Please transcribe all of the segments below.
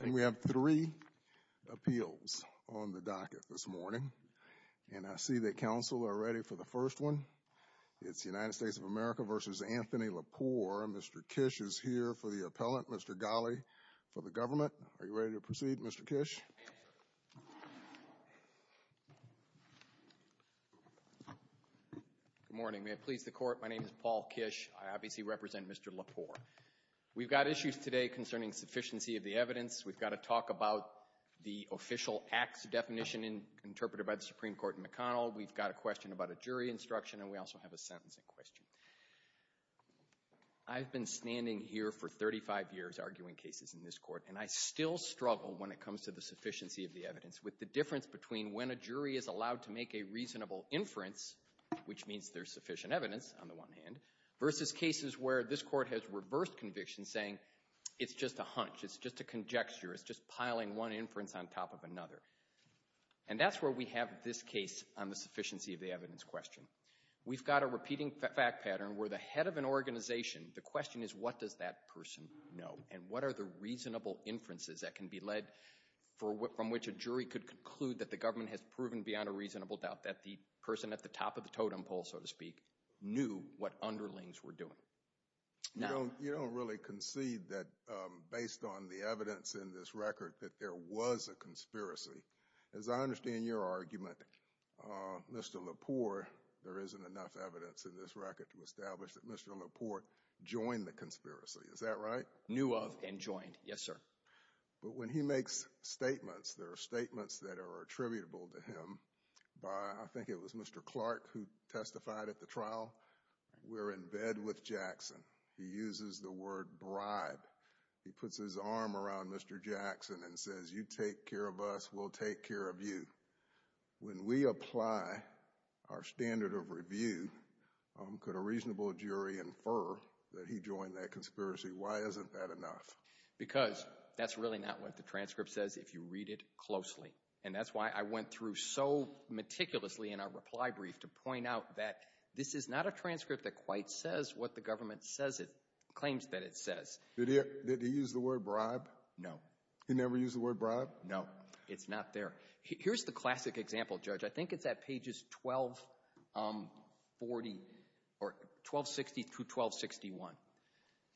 And we have three appeals on the docket this morning, and I see that counsel are ready for the first one. It's United States of America v. Anthony Lepore, and Mr. Kish is here for the appellant. Mr. Ghali for the government. Are you ready to proceed, Mr. Kish? Good morning. May it please the Court, my name is Paul Kish. I obviously represent Mr. Lepore. We've got issues today concerning sufficiency of the evidence. We've got to talk about the official acts definition interpreted by the Supreme Court in McConnell. We've got a question about a jury instruction, and we also have a sentencing question. I've been standing here for 35 years arguing cases in this Court, and I still struggle when it comes to the sufficiency of the evidence, with the difference between when a jury is allowed to make a reasonable inference, which means there's sufficient evidence on the one hand, versus cases where this Court has reversed conviction, saying it's just a hunch, it's just a conjecture, it's just piling one inference on top of another. And that's where we have this case on the sufficiency of the evidence question. We've got a repeating fact pattern where the head of an organization, the question is what does that person know, and what are the reasonable inferences that can be led from which a jury could conclude that the government has proven beyond a reasonable doubt that the person at the top of the totem pole, so to speak, knew what underlings were doing. You don't really concede that based on the evidence in this record that there was a conspiracy. As I understand your argument, Mr. Lepore, there isn't enough evidence in this record to establish that Mr. Lepore joined the conspiracy, is that right? Knew of and joined, yes sir. But when he makes statements, there are statements that are attributable to him by, I think it was Clark who testified at the trial, we're in bed with Jackson. He uses the word bribe. He puts his arm around Mr. Jackson and says, you take care of us, we'll take care of you. When we apply our standard of review, could a reasonable jury infer that he joined that conspiracy? Why isn't that enough? Because that's really not what the transcript says if you read it closely. And that's why I went through so meticulously in our reply brief to point out that this is not a transcript that quite says what the government says it, claims that it says. Did he use the word bribe? No. He never used the word bribe? No. It's not there. Here's the classic example, Judge. I think it's at pages 1260-1261.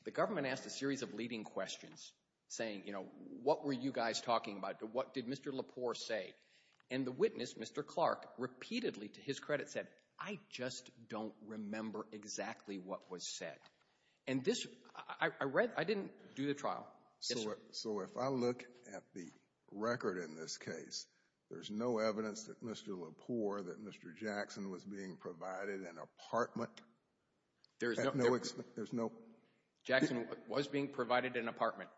The government asked a series of leading questions saying, you know, what were you guys talking about? What did Mr. Lepore say? And the witness, Mr. Clark, repeatedly to his credit said, I just don't remember exactly what was said. And this — I read — I didn't do the trial. So if I look at the record in this case, there's no evidence that Mr. Lepore, that Mr. Jackson was being provided an apartment at no — there's no — Jackson was being provided that apartment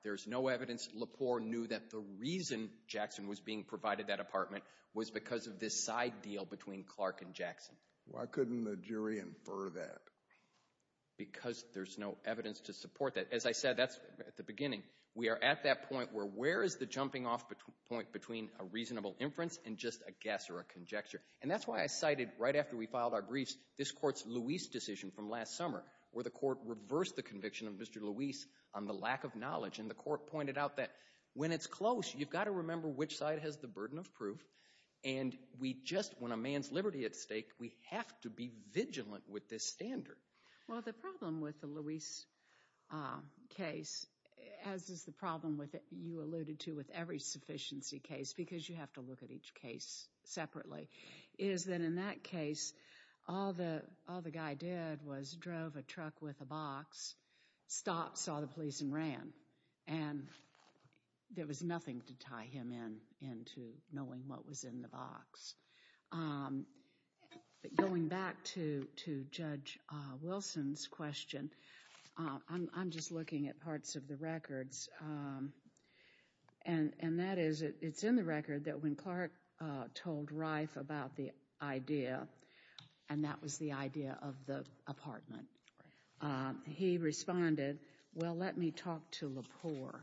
was because of this side deal between Clark and Jackson. Why couldn't the jury infer that? Because there's no evidence to support that. As I said, that's — at the beginning, we are at that point where where is the jumping-off point between a reasonable inference and just a guess or a conjecture? And that's why I cited, right after we filed our briefs, this Court's Luis decision from last summer, where the Court reversed the conviction of Mr. Luis on the lack of knowledge. And the Court pointed out that when it's close, you've got to remember which side has the burden of proof. And we just — when a man's liberty at stake, we have to be vigilant with this standard. Well, the problem with the Luis case, as is the problem with — you alluded to with every sufficiency case, because you have to look at each case separately, is that in that case, all the guy did was drove a truck with a box, stopped, saw the police, and ran. And there was nothing to tie him into knowing what was in the box. Going back to Judge Wilson's question, I'm just looking at parts of the records. And that is, it's in the record that when Clark told Reif about the idea — and that was the idea of the apartment — he responded, well, let me talk to Lepore.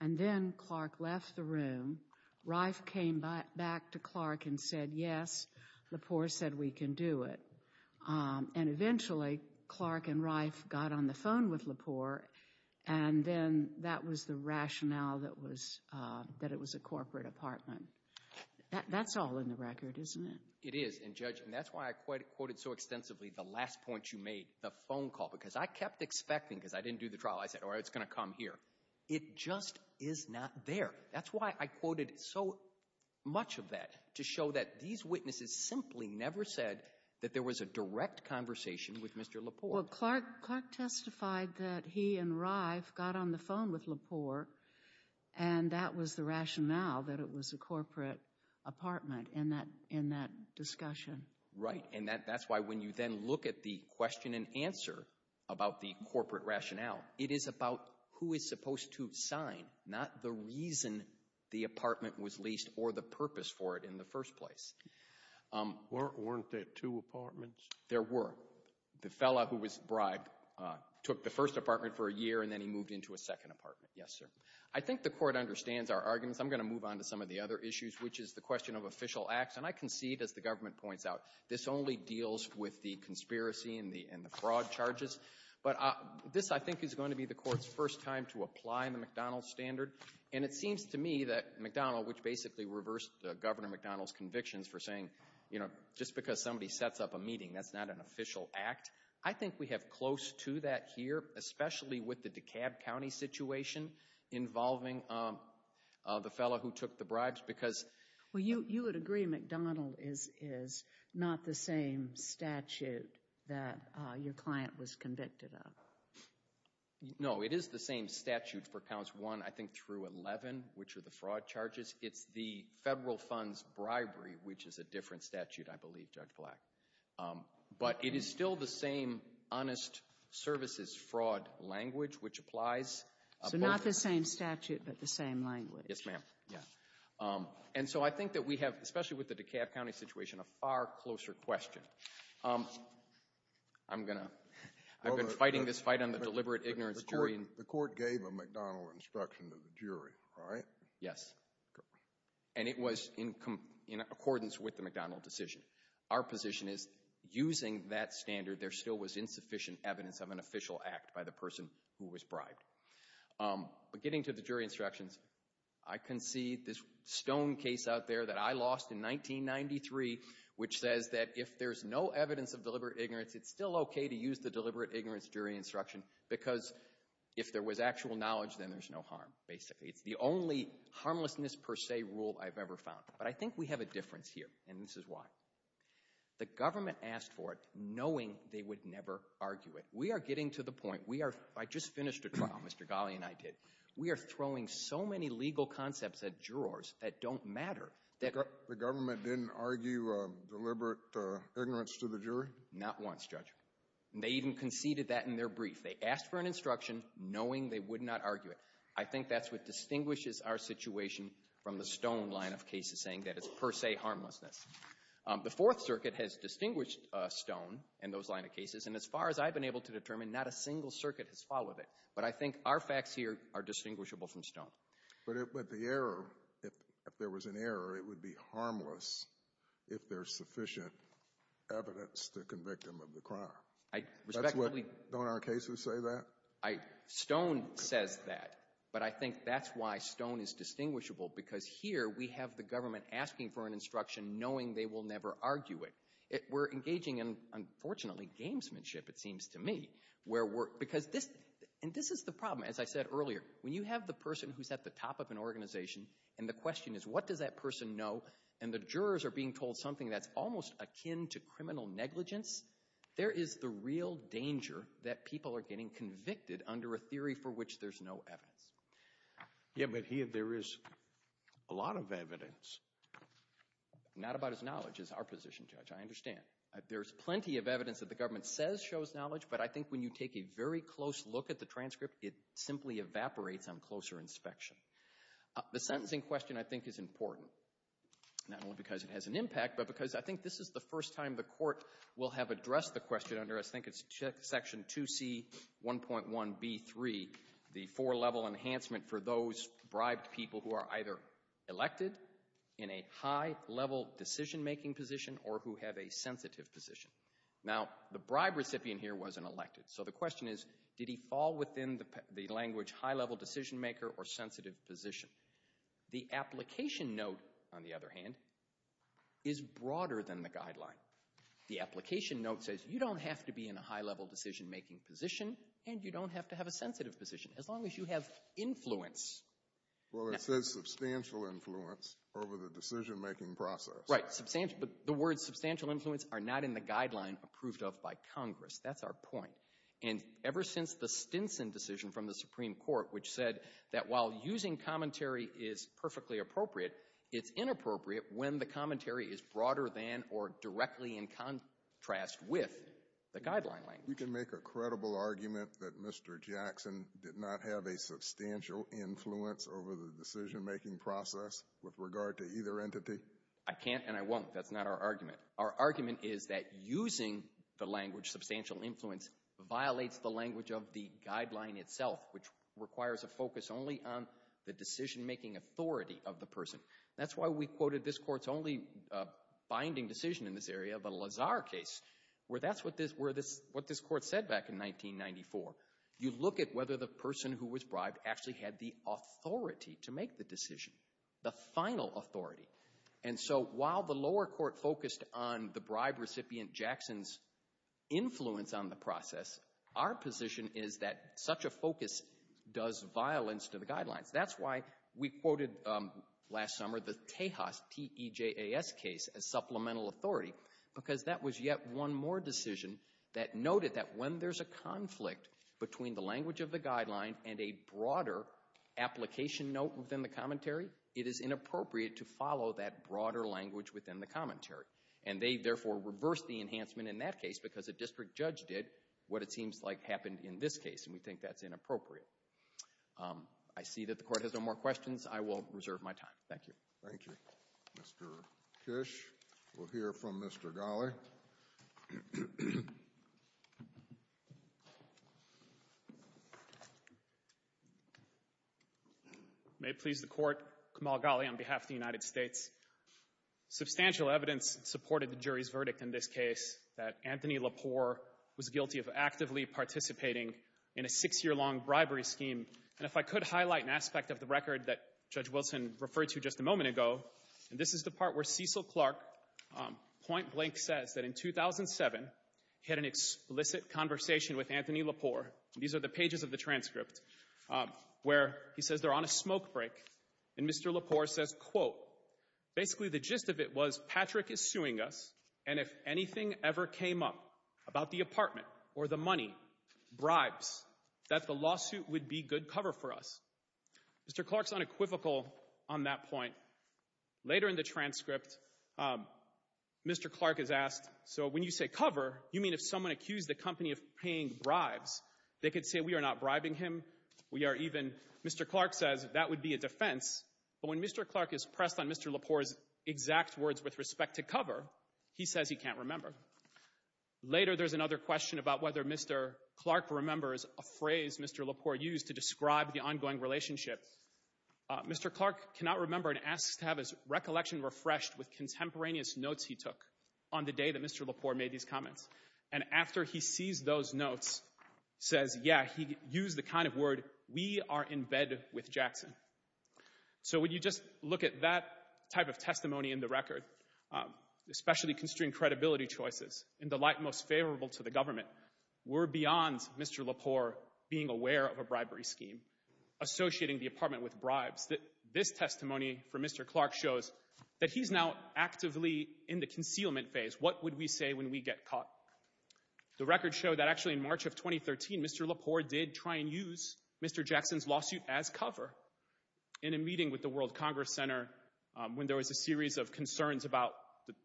And then Clark left the room. Reif came back to Clark and said, yes, Lepore said we can do it. And eventually, Clark and Reif got on the phone with Lepore. And then that was the rationale that it was a corporate apartment. That's all in the record, isn't it? It is. And, Judge, that's why I quoted so extensively the last point you made, the phone call, because I kept expecting — because I didn't do the trial. I said, all right, it's going to come here. It just is not there. That's why I quoted so much of that, to show that these witnesses simply never said that there was a direct conversation with Mr. Lepore. Well, Clark testified that he and Reif got on the phone with Lepore, and that was the rationale that it was a corporate apartment in that discussion. Right. And that's why when you then look at the question and answer about the corporate rationale, it is about who is supposed to sign, not the reason the apartment was leased or the purpose for it in the first place. Weren't there two apartments? There were. The fellow who was bribed took the first apartment for a year, and then he moved into a second apartment. Yes, sir. I think the Court understands our arguments. I'm going to move on to some of the other issues, which is the question of official acts. And I concede, as the government points out, this only deals with the conspiracy and the fraud charges. But this, I think, is going to be the Court's first time to apply the McDonald standard. And it seems to me that we reversed Governor McDonald's convictions for saying, you know, just because somebody sets up a meeting, that's not an official act. I think we have close to that here, especially with the DeKalb County situation involving the fellow who took the bribes, because— Well, you would agree McDonald is not the same statute that your client was convicted of. No, it is the same statute for Counts 1, I think, through 11, which are the fraud charges. It's the Federal Funds bribery, which is a different statute, I believe, Judge Black. But it is still the same honest services fraud language, which applies— So not the same statute, but the same language. Yes, ma'am. Yeah. And so I think that we have, especially with the DeKalb County situation, a far closer question. I'm going to — I've been fighting this fight on the deliberate ignorance jury. The Court gave a McDonald instruction to the jury, right? Yes. And it was in accordance with the McDonald decision. Our position is, using that standard, there still was insufficient evidence of an official act by the person who was bribed. But getting to the jury instructions, I can see this stone case out there that I lost in 1993, which says that if there's no evidence of deliberate ignorance, it's still okay to use the deliberate ignorance jury instruction, because if there was actual knowledge, then there's no harm, basically. It's the only harmlessness per se rule I've ever found. But I think we have a difference here, and this is why. The government asked for it knowing they would never argue it. We are getting to the point. We are — I just finished a trial. Mr. Ghali and I did. We are throwing so many legal concepts at jurors that don't matter that — The government didn't argue deliberate ignorance to the jury? Not once, Judge. And they even conceded that in their brief. They asked for an instruction knowing they would not argue it. I think that's what distinguishes our situation from the stone line of cases, saying that it's per se harmlessness. The Fourth Circuit has distinguished stone in those line of cases. And as far as I've been able to determine, not a single circuit has followed it. But I think our facts here are distinguishable from stone. But it — but the error, if there was an error, it would be harmless if there's sufficient evidence to convict him of the crime. I respectfully — That's what — don't our cases say that? I — stone says that. But I think that's why stone is distinguishable, because here we have the government asking for an instruction knowing they will never argue it. We're engaging in, unfortunately, gamesmanship, it seems to me, where we're — because this — and this is the problem. As I said earlier, when you have the person who's at the top of an organization, and the question is what does that person know, and the jurors are being told something that's almost akin to criminal negligence, there is the real danger that people are getting convicted under a theory for which there's no evidence. Yeah, but he — there is a lot of evidence. Not about his knowledge, is our position, Judge. I understand. There's plenty of evidence that the government says shows knowledge, but I think when you take a very close look at the transcript, it simply evaporates on closer inspection. The sentencing question, I think, is important, not only because it has an impact, but because I think this is the first time the court will have addressed the question under, I think it's Section 2C1.1b3, the four-level enhancement for those bribed people who are either elected in a high-level decision-making position or who have a sensitive position. Now, the bribe recipient here was an elected, so the question is, did he fall within the language high-level decision-maker or sensitive position? The application note, on the other hand, is broader than the guideline. The application note says you don't have to be in a high-level decision-making position, and you don't have to have a sensitive position, as long as you have influence. Well, it says substantial influence over the decision-making process. Right, substantial — but the words substantial influence are not in the guideline approved of by Congress. That's our point. And ever since the Stinson decision from the Supreme Court, which said that while using commentary is perfectly appropriate, it's inappropriate when the commentary is broader than or directly in contrast with the guideline language. You can make a credible argument that Mr. Jackson did not have a substantial influence over the decision-making process with regard to either entity? I can't and I won't. That's not our argument. Our argument is that using the language substantial influence violates the language of the guideline itself, which requires a focus only on the this Court's only binding decision in this area, the Lazar case, where that's what this Court said back in 1994. You look at whether the person who was bribed actually had the authority to make the decision, the final authority. And so while the lower court focused on the bribe recipient Jackson's influence on the process, our position is that such a focus does violence to the guidelines. That's why we quoted last summer the Tejas, T-E-J-A-S, case as supplemental authority, because that was yet one more decision that noted that when there's a conflict between the language of the guideline and a broader application note within the commentary, it is inappropriate to follow that broader language within the commentary. And they, therefore, reversed the enhancement in that case because a district judge did what it seems like happened in this appropriate. I see that the Court has no more questions. I will reserve my time. Thank you. Thank you. Mr. Kish. We'll hear from Mr. Ghali. May it please the Court, Kamal Ghali on behalf of the United States. Substantial evidence supported the jury's verdict in this case that Anthony Lepore was guilty of actively participating in a six-year-long bribery scheme. And if I could highlight an aspect of the record that Judge Wilson referred to just a moment ago, and this is the part where Cecil Clark point-blank says that in 2007, he had an explicit conversation with Anthony Lepore. These are the pages of the transcript, where he says they're on a smoke break, and Mr. Lepore says, quote, basically the gist of it was Patrick is suing us, and if anything ever came up about the apartment or the money, bribes, that the lawsuit would be good cover for us. Mr. Clark's unequivocal on that point. Later in the transcript, Mr. Clark is asked, so when you say cover, you mean if someone accused the company of paying bribes, they could say we are not bribing him? We are even, Mr. Clark says, that would be a defense. But when Mr. Clark is pressed on Mr. Lepore's exact words with respect to cover, he says he can't remember. Later, there's another question about whether Mr. Clark remembers a phrase Mr. Lepore used to describe the ongoing relationship. Mr. Clark cannot remember and asks to have his recollection refreshed with contemporaneous notes he took on the day that Mr. Lepore made these comments, and after he sees those notes, says, yeah, he used the kind of word, we are in bed with Jackson. So when you just look at that type of testimony in the record, especially constrained credibility choices, in the light most favorable to the government, we're beyond Mr. Lepore being aware of a bribery scheme, associating the apartment with bribes. This testimony from Mr. Clark shows that he's now actively in the concealment phase. What would we say when we get caught? The records show that actually in March of 2013, Mr. Lepore did try and use Mr. Jackson's lawsuit as cover in a meeting with the World Congress Center when there was a series of concerns about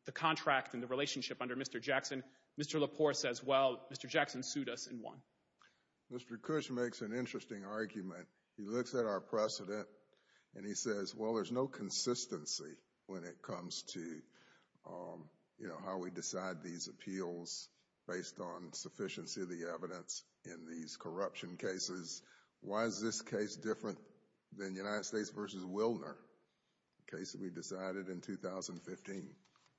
the contract and the relationship under Mr. Jackson. Mr. Lepore says, well, Mr. Jackson sued us and won. Mr. Cush makes an interesting argument. He looks at our precedent and he says, well, there's no consistency when it comes to, you know, how we decide these appeals based on sufficiency of the evidence in these corruption cases. Why is this case different than United States v. Wilner, a case that we decided in 2015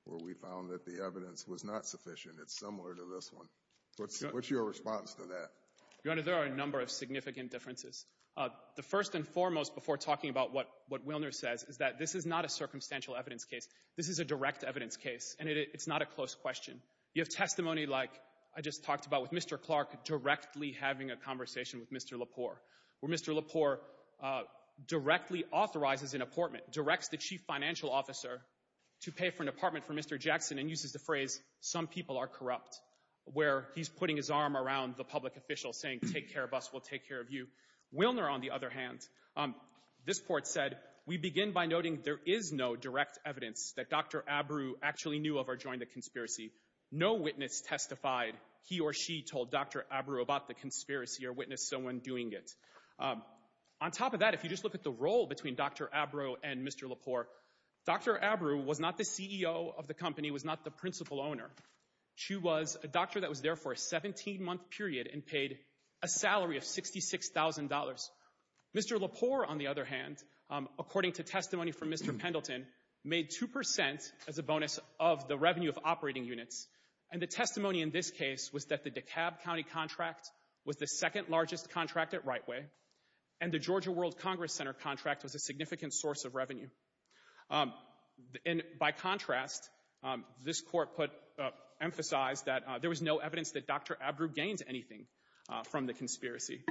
where we found that the evidence was not sufficient? It's similar to this one. What's your response to that? Your Honor, there are a number of significant differences. The first and foremost before talking about what Wilner says is that this is not a circumstantial evidence case. This is a direct evidence case and it's not a close question. You have testimony like I just talked about with Mr. Clark directly having a conversation with Mr. Lepore, where Mr. Lepore directly authorizes an apportment, directs the chief financial officer to pay for an apartment for Mr. Jackson and uses the phrase, some people are corrupt, where he's putting his arm around the public official saying take care of us, we'll take care of you. Wilner, on the other hand, this court said we begin by noting there is no direct evidence that Dr. Abreu actually knew of or the conspiracy. No witness testified he or she told Dr. Abreu about the conspiracy or witnessed someone doing it. On top of that, if you just look at the role between Dr. Abreu and Mr. Lepore, Dr. Abreu was not the CEO of the company, was not the principal owner. She was a doctor that was there for a 17-month period and paid a salary of $66,000. Mr. Lepore, on the other hand, according to testimony from Mr. Pendleton, made 2% as a bonus of the revenue of operating units and the testimony in this case was that the DeKalb County contract was the second largest contract at Rightway and the Georgia World Congress Center contract was a significant source of revenue. By contrast, this court put, emphasized that there was no evidence that Dr. Abreu gains anything from the conspiracy.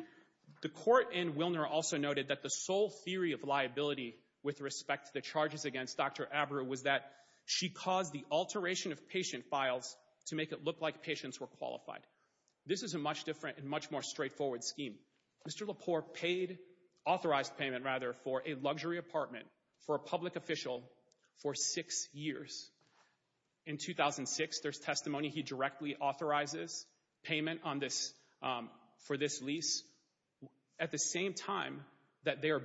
The court in Wilner also noted that the sole theory of liability with respect to the charges against Dr. Abreu was that she caused the alteration of patient files to make it look like patients were qualified. This is a much different and much more straightforward scheme. Mr. Lepore paid, authorized payment rather for a luxury apartment for a public official for six years. In 2006, there's testimony he directly authorizes payment on this, for this lease at the same time that they are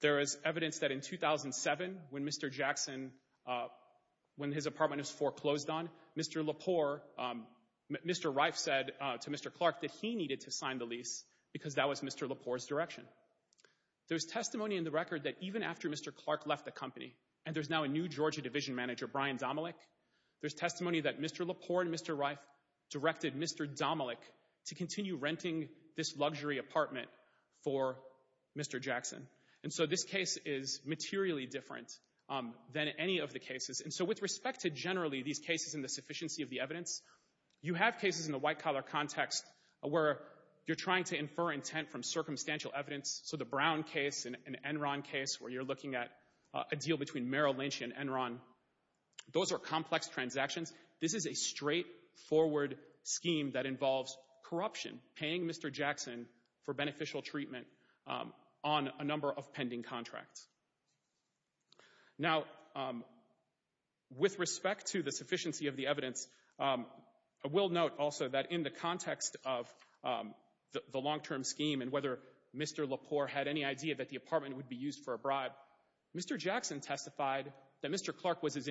There's also evidence that in 2007 when Mr. Jackson, when his apartment was foreclosed on, Mr. Lepore, Mr. Reif said to Mr. Clark that he needed to sign the lease because that was Mr. Lepore's direction. There's testimony in the record that even after Mr. Clark left the company and there's now a new Georgia division manager, Brian Domelik, there's testimony that Mr. Lepore and Mr. Reif directed Mr. Domelik to continue renting this luxury apartment for Mr. Jackson. And so this case is materially different than any of the cases. And so with respect to generally these cases and the sufficiency of the evidence, you have cases in the white-collar context where you're trying to infer intent from circumstantial evidence. So the Brown case and Enron case where you're looking at a deal between Merrill Lynch and Enron, those are complex transactions. This is a straightforward scheme that involves corruption, paying Mr. Jackson for beneficial treatment on a number of pending contracts. Now with respect to the sufficiency of the evidence, I will note also that in the context of the long-term scheme and whether Mr. Lepore had any idea that the apartment would be used for a bribe, Mr. Jackson testified that Mr. Clark was his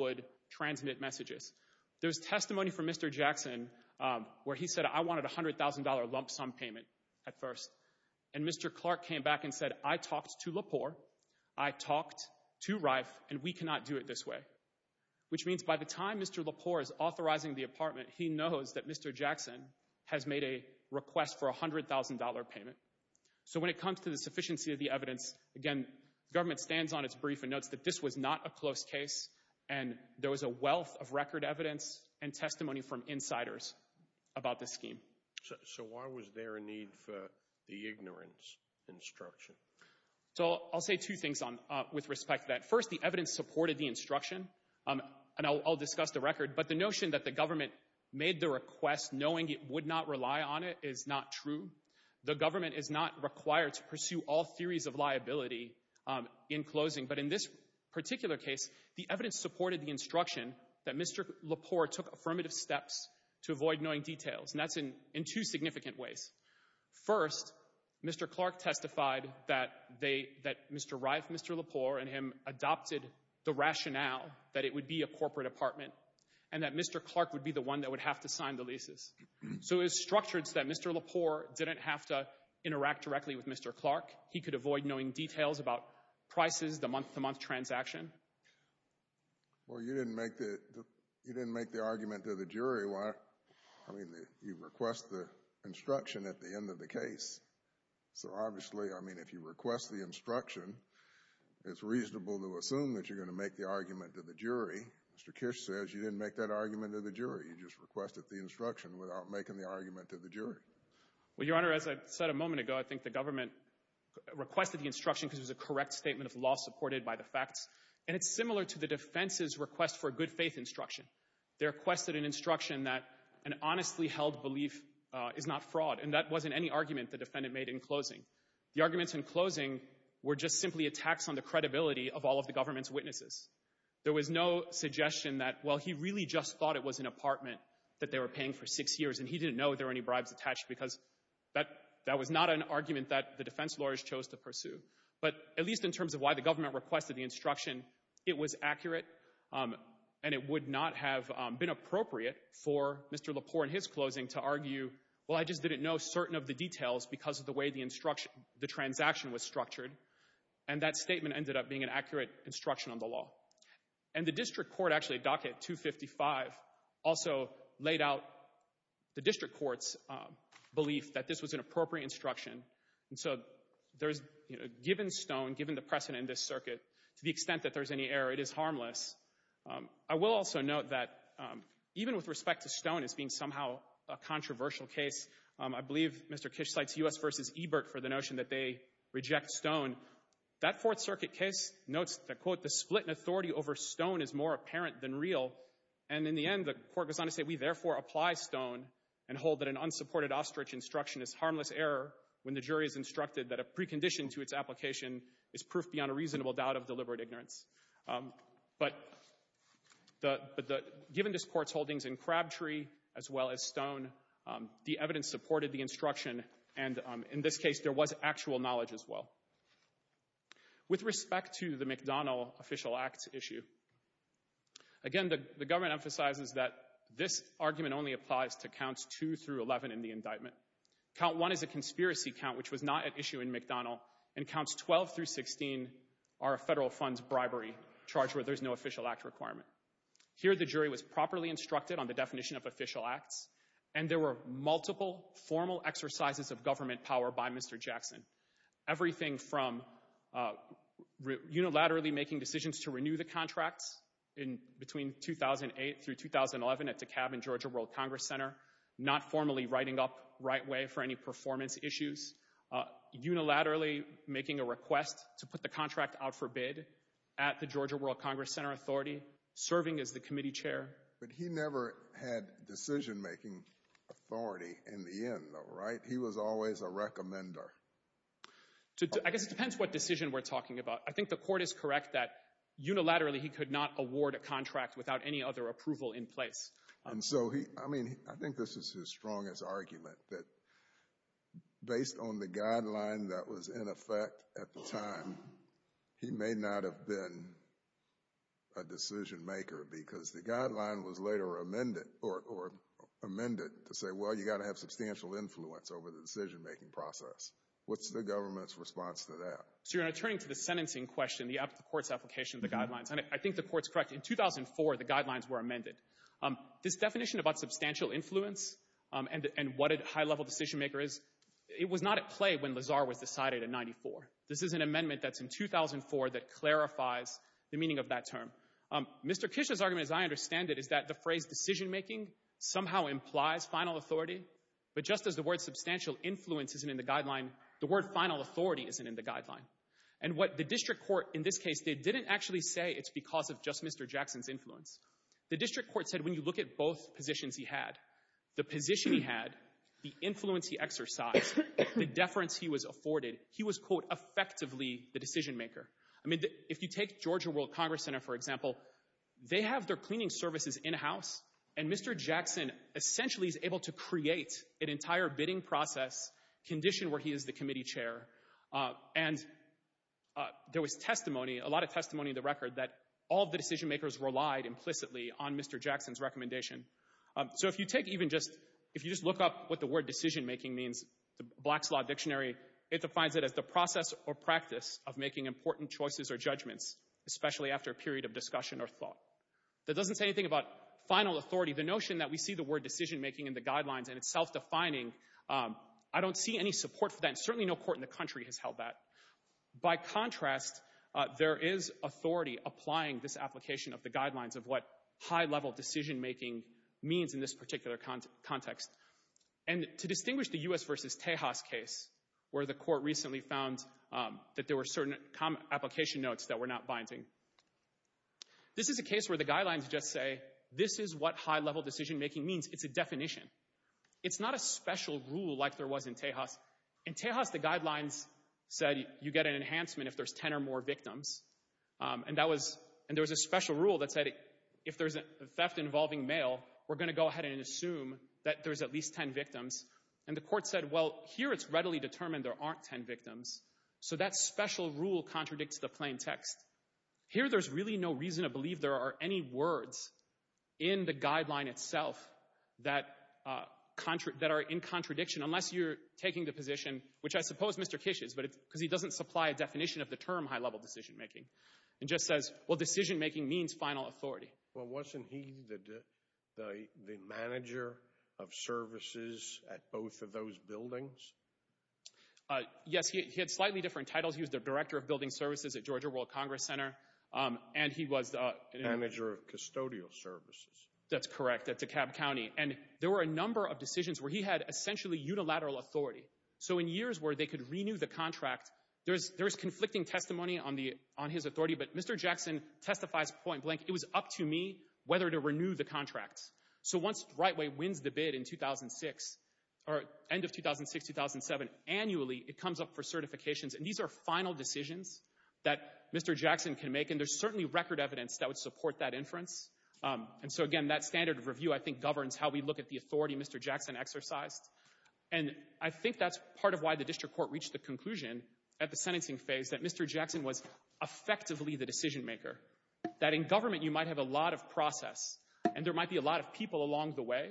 would transmit messages. There's testimony from Mr. Jackson where he said, I wanted a $100,000 lump sum payment at first. And Mr. Clark came back and said, I talked to Lepore, I talked to Reif, and we cannot do it this way. Which means by the time Mr. Lepore is authorizing the apartment, he knows that Mr. Jackson has made a request for a $100,000 payment. So when it comes to the sufficiency of the evidence, again, government stands on its brief and notes that this was not a close case and there was a wealth of record evidence and testimony from insiders about this scheme. So why was there a need for the ignorance instruction? So I'll say two things with respect to that. First, the evidence supported the instruction, and I'll discuss the record, but the notion that the government made the request knowing it would not rely on it is not true. The government is not required to pursue all theories of liability in closing. But in this particular case, the evidence supported the instruction that Mr. Lepore took affirmative steps to avoid knowing details, and that's in two significant ways. First, Mr. Clark testified that Mr. Reif, Mr. Lepore, and him adopted the rationale that it would be a corporate apartment and that Mr. Clark would be the one that would have to sign the leases. So it was structured so that Mr. Lepore didn't have to interact directly with Mr. Clark. He could avoid knowing details about prices, the month-to-month transaction. Well, you didn't make the argument to the jury. I mean, you request the instruction at the end of the case. So obviously, I mean, if you request the instruction, it's reasonable to assume that you're going to make the argument to the jury. Mr. Kish says you didn't make that argument to the jury. You just requested the instruction without making the argument to the jury. Well, Your Honor, as I said a moment ago, I think the government requested the instruction because it was a correct statement of law supported by the facts, and it's similar to the defense's request for a good faith instruction. They requested an instruction that an honestly held belief is not fraud, and that wasn't any argument the defendant made in closing. The arguments in closing were just simply attacks on the credibility of all of the government's witnesses. There was no suggestion that, well, he really just thought it was an apartment that they were paying for six years, and he didn't know if there were any bribes attached because that was not an argument that the defense lawyers chose to pursue. But at least in terms of why the government requested the instruction, it was accurate, and it would not have been appropriate for Mr. Lepore in his closing to argue, well, I just didn't know certain of the details because of the way the instruction, the transaction was structured, and that statement ended up being an accurate instruction on the law. And the district court actually, docket 255, also laid out the district court's belief that this was an appropriate instruction. And so there's, you know, given Stone, given the precedent in this circuit, to the extent that there's any error, it is harmless. I will also note that even with respect to Stone as being somehow a controversial case, I believe Mr. Kish cites U.S. v. Ebert for the more apparent than real. And in the end, the court goes on to say, we therefore apply Stone and hold that an unsupported ostrich instruction is harmless error when the jury is instructed that a precondition to its application is proof beyond a reasonable doubt of deliberate ignorance. But given this court's holdings in Crabtree as well as Stone, the evidence supported the instruction, and in this case, there was actual knowledge as well. With respect to the McDonnell official acts issue, again, the government emphasizes that this argument only applies to counts 2 through 11 in the indictment. Count 1 is a conspiracy count, which was not at issue in McDonnell, and counts 12 through 16 are a federal funds bribery charge where there's no official act requirement. Here, the jury was properly instructed on the definition of official acts, and there were multiple formal exercises of government power by Mr. Jackson. Everything from unilaterally making decisions to renew the contracts in between 2008 through 2011 at DeKalb and Georgia World Congress Center, not formally writing up right way for any performance issues, unilaterally making a request to put the contract out for bid at the Georgia World Congress Center Authority, serving as the committee chair. But he never had decision-making authority in the end though, right? He was always a recommender. I guess it depends what decision we're talking about. I think the court is correct that unilaterally he could not award a contract without any other approval in place. And so he, I mean, I think this is his strongest argument that based on the guideline that was in effect at the time, he may not have been a decision-maker because the guideline was later amended or amended to say, well, you got to have substantial influence over the decision-making process. What's the government's response to that? So you're turning to the sentencing question, the court's application of the guidelines, and I think the court's correct. In 2004, the guidelines were amended. This definition about substantial influence and what a high-level decision-maker is, it was not at play when Lazar was decided in 94. This is an amendment that's in 2004 that clarifies the meaning of that term. Mr. Kish's argument, as I understand it, is that the phrase decision-making somehow implies final authority, but just as the word substantial influence isn't in the guideline, the word final authority isn't in the guideline. And what the district court in this case did didn't actually say it's because of just Mr. Jackson's influence. The district court said when you look at both positions he had, the position he had, the influence he exercised, the deference he was afforded, he was, quote, effectively the decision-maker. I mean, if you take Georgia World Congress Center, for example, they have their cleaning services in-house, and Mr. Jackson essentially is able to create an entire bidding process, condition where he is the committee chair, and there was testimony, a lot of testimony in the record, that all the decision-makers relied implicitly on Mr. Jackson's recommendation. So if you take even just, if you just look up what the word decision-making means, the Black's Law Dictionary, it defines it as the process or practice of making important choices or judgments, especially after a period of discussion or thought. That doesn't say anything about final authority. The notion that we see the word decision-making in the guidelines in self-defining, I don't see any support for that, and certainly no court in the country has held that. By contrast, there is authority applying this application of the guidelines of what high-level decision-making means in this particular context. And to distinguish the U.S. versus Tejas case, where the court recently found that there were certain application notes that were not binding, this is a case where the guidelines just say this is what high-level decision-making means. It's a definition. It's not a special rule like there was in Tejas. In Tejas, the guidelines said you get an enhancement if there's 10 or more victims. And that was, and there was a special rule that said if there's a theft involving mail, we're going to go ahead and assume that there's at least 10 victims. And the court said, well, here it's readily determined there aren't 10 victims, so that special rule contradicts the plain text. Here there's really no reason to believe there are any words in the guideline itself that are in contradiction, unless you're taking the position, which I suppose Mr. Kish's, but it's because he doesn't supply a definition of the term high-level decision-making, and just says, well, decision-making means final authority. Well, wasn't he the manager of services at both of those buildings? Yes, he had slightly different titles. He was the director of building services at Georgia World Congress Center, and he was the manager of custodial services. That's correct, at DeKalb County. And there were a number of decisions where he had essentially unilateral authority. So in years where they could renew the contract, there's conflicting testimony on his authority, but Mr. Jackson testifies point blank, it was up to me whether to renew the contract. So once RightWay wins the bid in 2006, or end of 2006, 2007, annually, it comes up for Mr. Jackson to make, and there's certainly record evidence that would support that inference. And so again, that standard of review, I think, governs how we look at the authority Mr. Jackson exercised. And I think that's part of why the district court reached the conclusion at the sentencing phase that Mr. Jackson was effectively the decision-maker. That in government, you might have a lot of process, and there might be a lot of people along the way,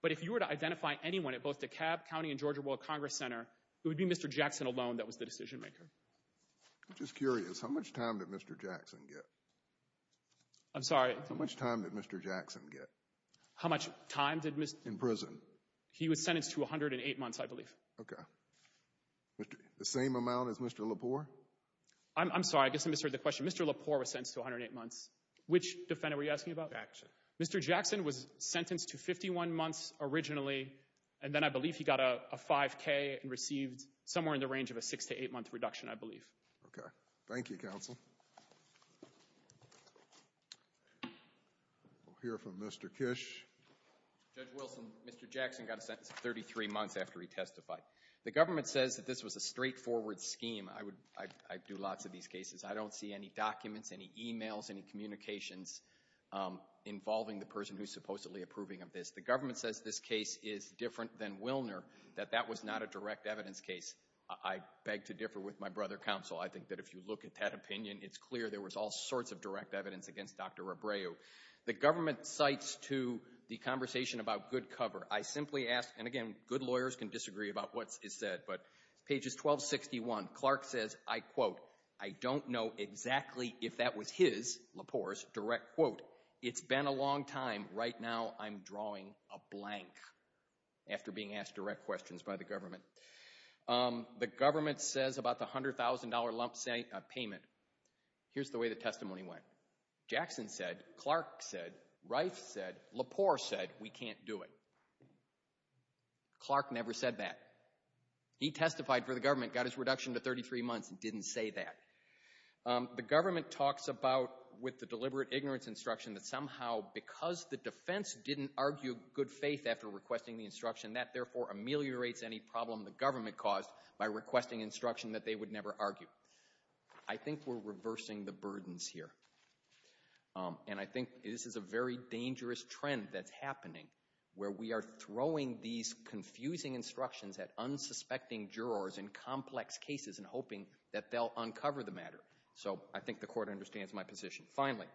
but if you were to identify anyone at both DeKalb County and Georgia World Congress Center, it would be Mr. Jackson alone that was the decision-maker. I'm just curious, how much time did Mr. Jackson get? I'm sorry? How much time did Mr. Jackson get? How much time did Mr.? In prison. He was sentenced to 108 months, I believe. Okay. The same amount as Mr. Lepore? I'm sorry, I guess I misheard the question. Mr. Lepore was sentenced to 108 months. Which defendant were you asking about? Jackson. Mr. Jackson was sentenced to 51 months originally, and then I believe he got a 5k and received somewhere in the range of a six to eight month reduction, I believe. Okay. Thank you, Counsel. We'll hear from Mr. Kish. Judge Wilson, Mr. Jackson got a sentence of 33 months after he testified. The government says that this was a straightforward scheme. I do lots of these cases. I don't see any documents, any e-mails, any communications involving the person who's supposedly approving of this. The government says this case is different than Willner, that that was not a direct evidence case. I beg to differ with my brother, Counsel. I think that if you look at that opinion, it's clear there was all sorts of direct evidence against Dr. Rebreu. The government cites to the conversation about good cover. I simply ask, and again, good lawyers can disagree about what is said, but pages 1261, Clark says, I quote, I don't know exactly if that was his, Lepore's, direct quote. It's been a long time. Right now, I'm drawing a blank after being asked direct questions by the government. The government says about the $100,000 lump payment, here's the way the testimony went. Jackson said, Clark said, Reif said, Lepore said, we can't do it. Clark never said that. He testified for the government, got his reduction to 33 months, and didn't say that. The government talks about, with the deliberate ignorance instruction, that somehow because the defense didn't argue good faith after requesting the instruction, that therefore ameliorates any problem the government caused by requesting instruction that they would never argue. I think we're reversing the burdens here. And I think this is a very dangerous trend that's happening, where we are throwing these confusing instructions at unsuspecting jurors in complex cases and hoping that they'll uncover the matter. So I think the court understands my position. Finally,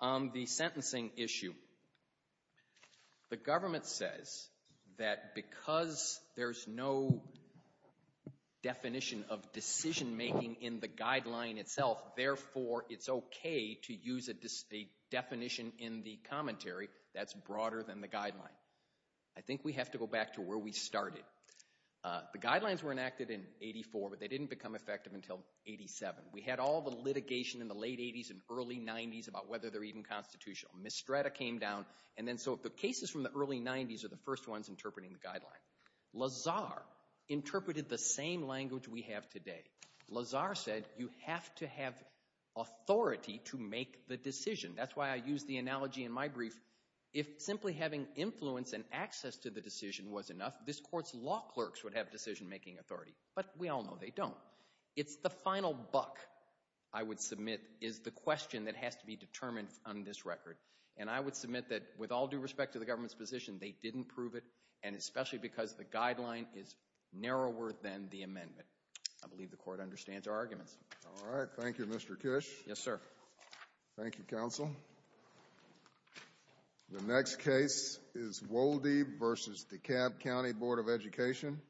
the sentencing issue. The government says that because there's no definition of decision making in the guideline itself, therefore it's okay to use a definition in the commentary that's broader than the guideline. I think we have to go back to where we started. The guidelines were enacted in 84, but they didn't become effective until 87. We had all the litigation in the late 80s and early 90s about whether they're even constitutional. Mistretta came down, and then so the cases from the early 90s are the first ones interpreting the guideline. Lazar interpreted the same language we have today. Lazar said you have to have authority to make the decision. That's why I use the analogy in my brief, if simply having influence and access to the decision was enough, this Court's law clerks would have decision-making authority. But we all know they don't. It's the final buck, I would submit, is the question that has to be determined on this record. And I would submit that, with all due respect to the government's position, they didn't prove it, and especially because the guideline is narrower than the amendment. I believe the Court understands our arguments. All right. Thank you, Mr. Kish. Yes, sir. Thank you, counsel. The next case is Wolde v. DeKalb County Board of Education.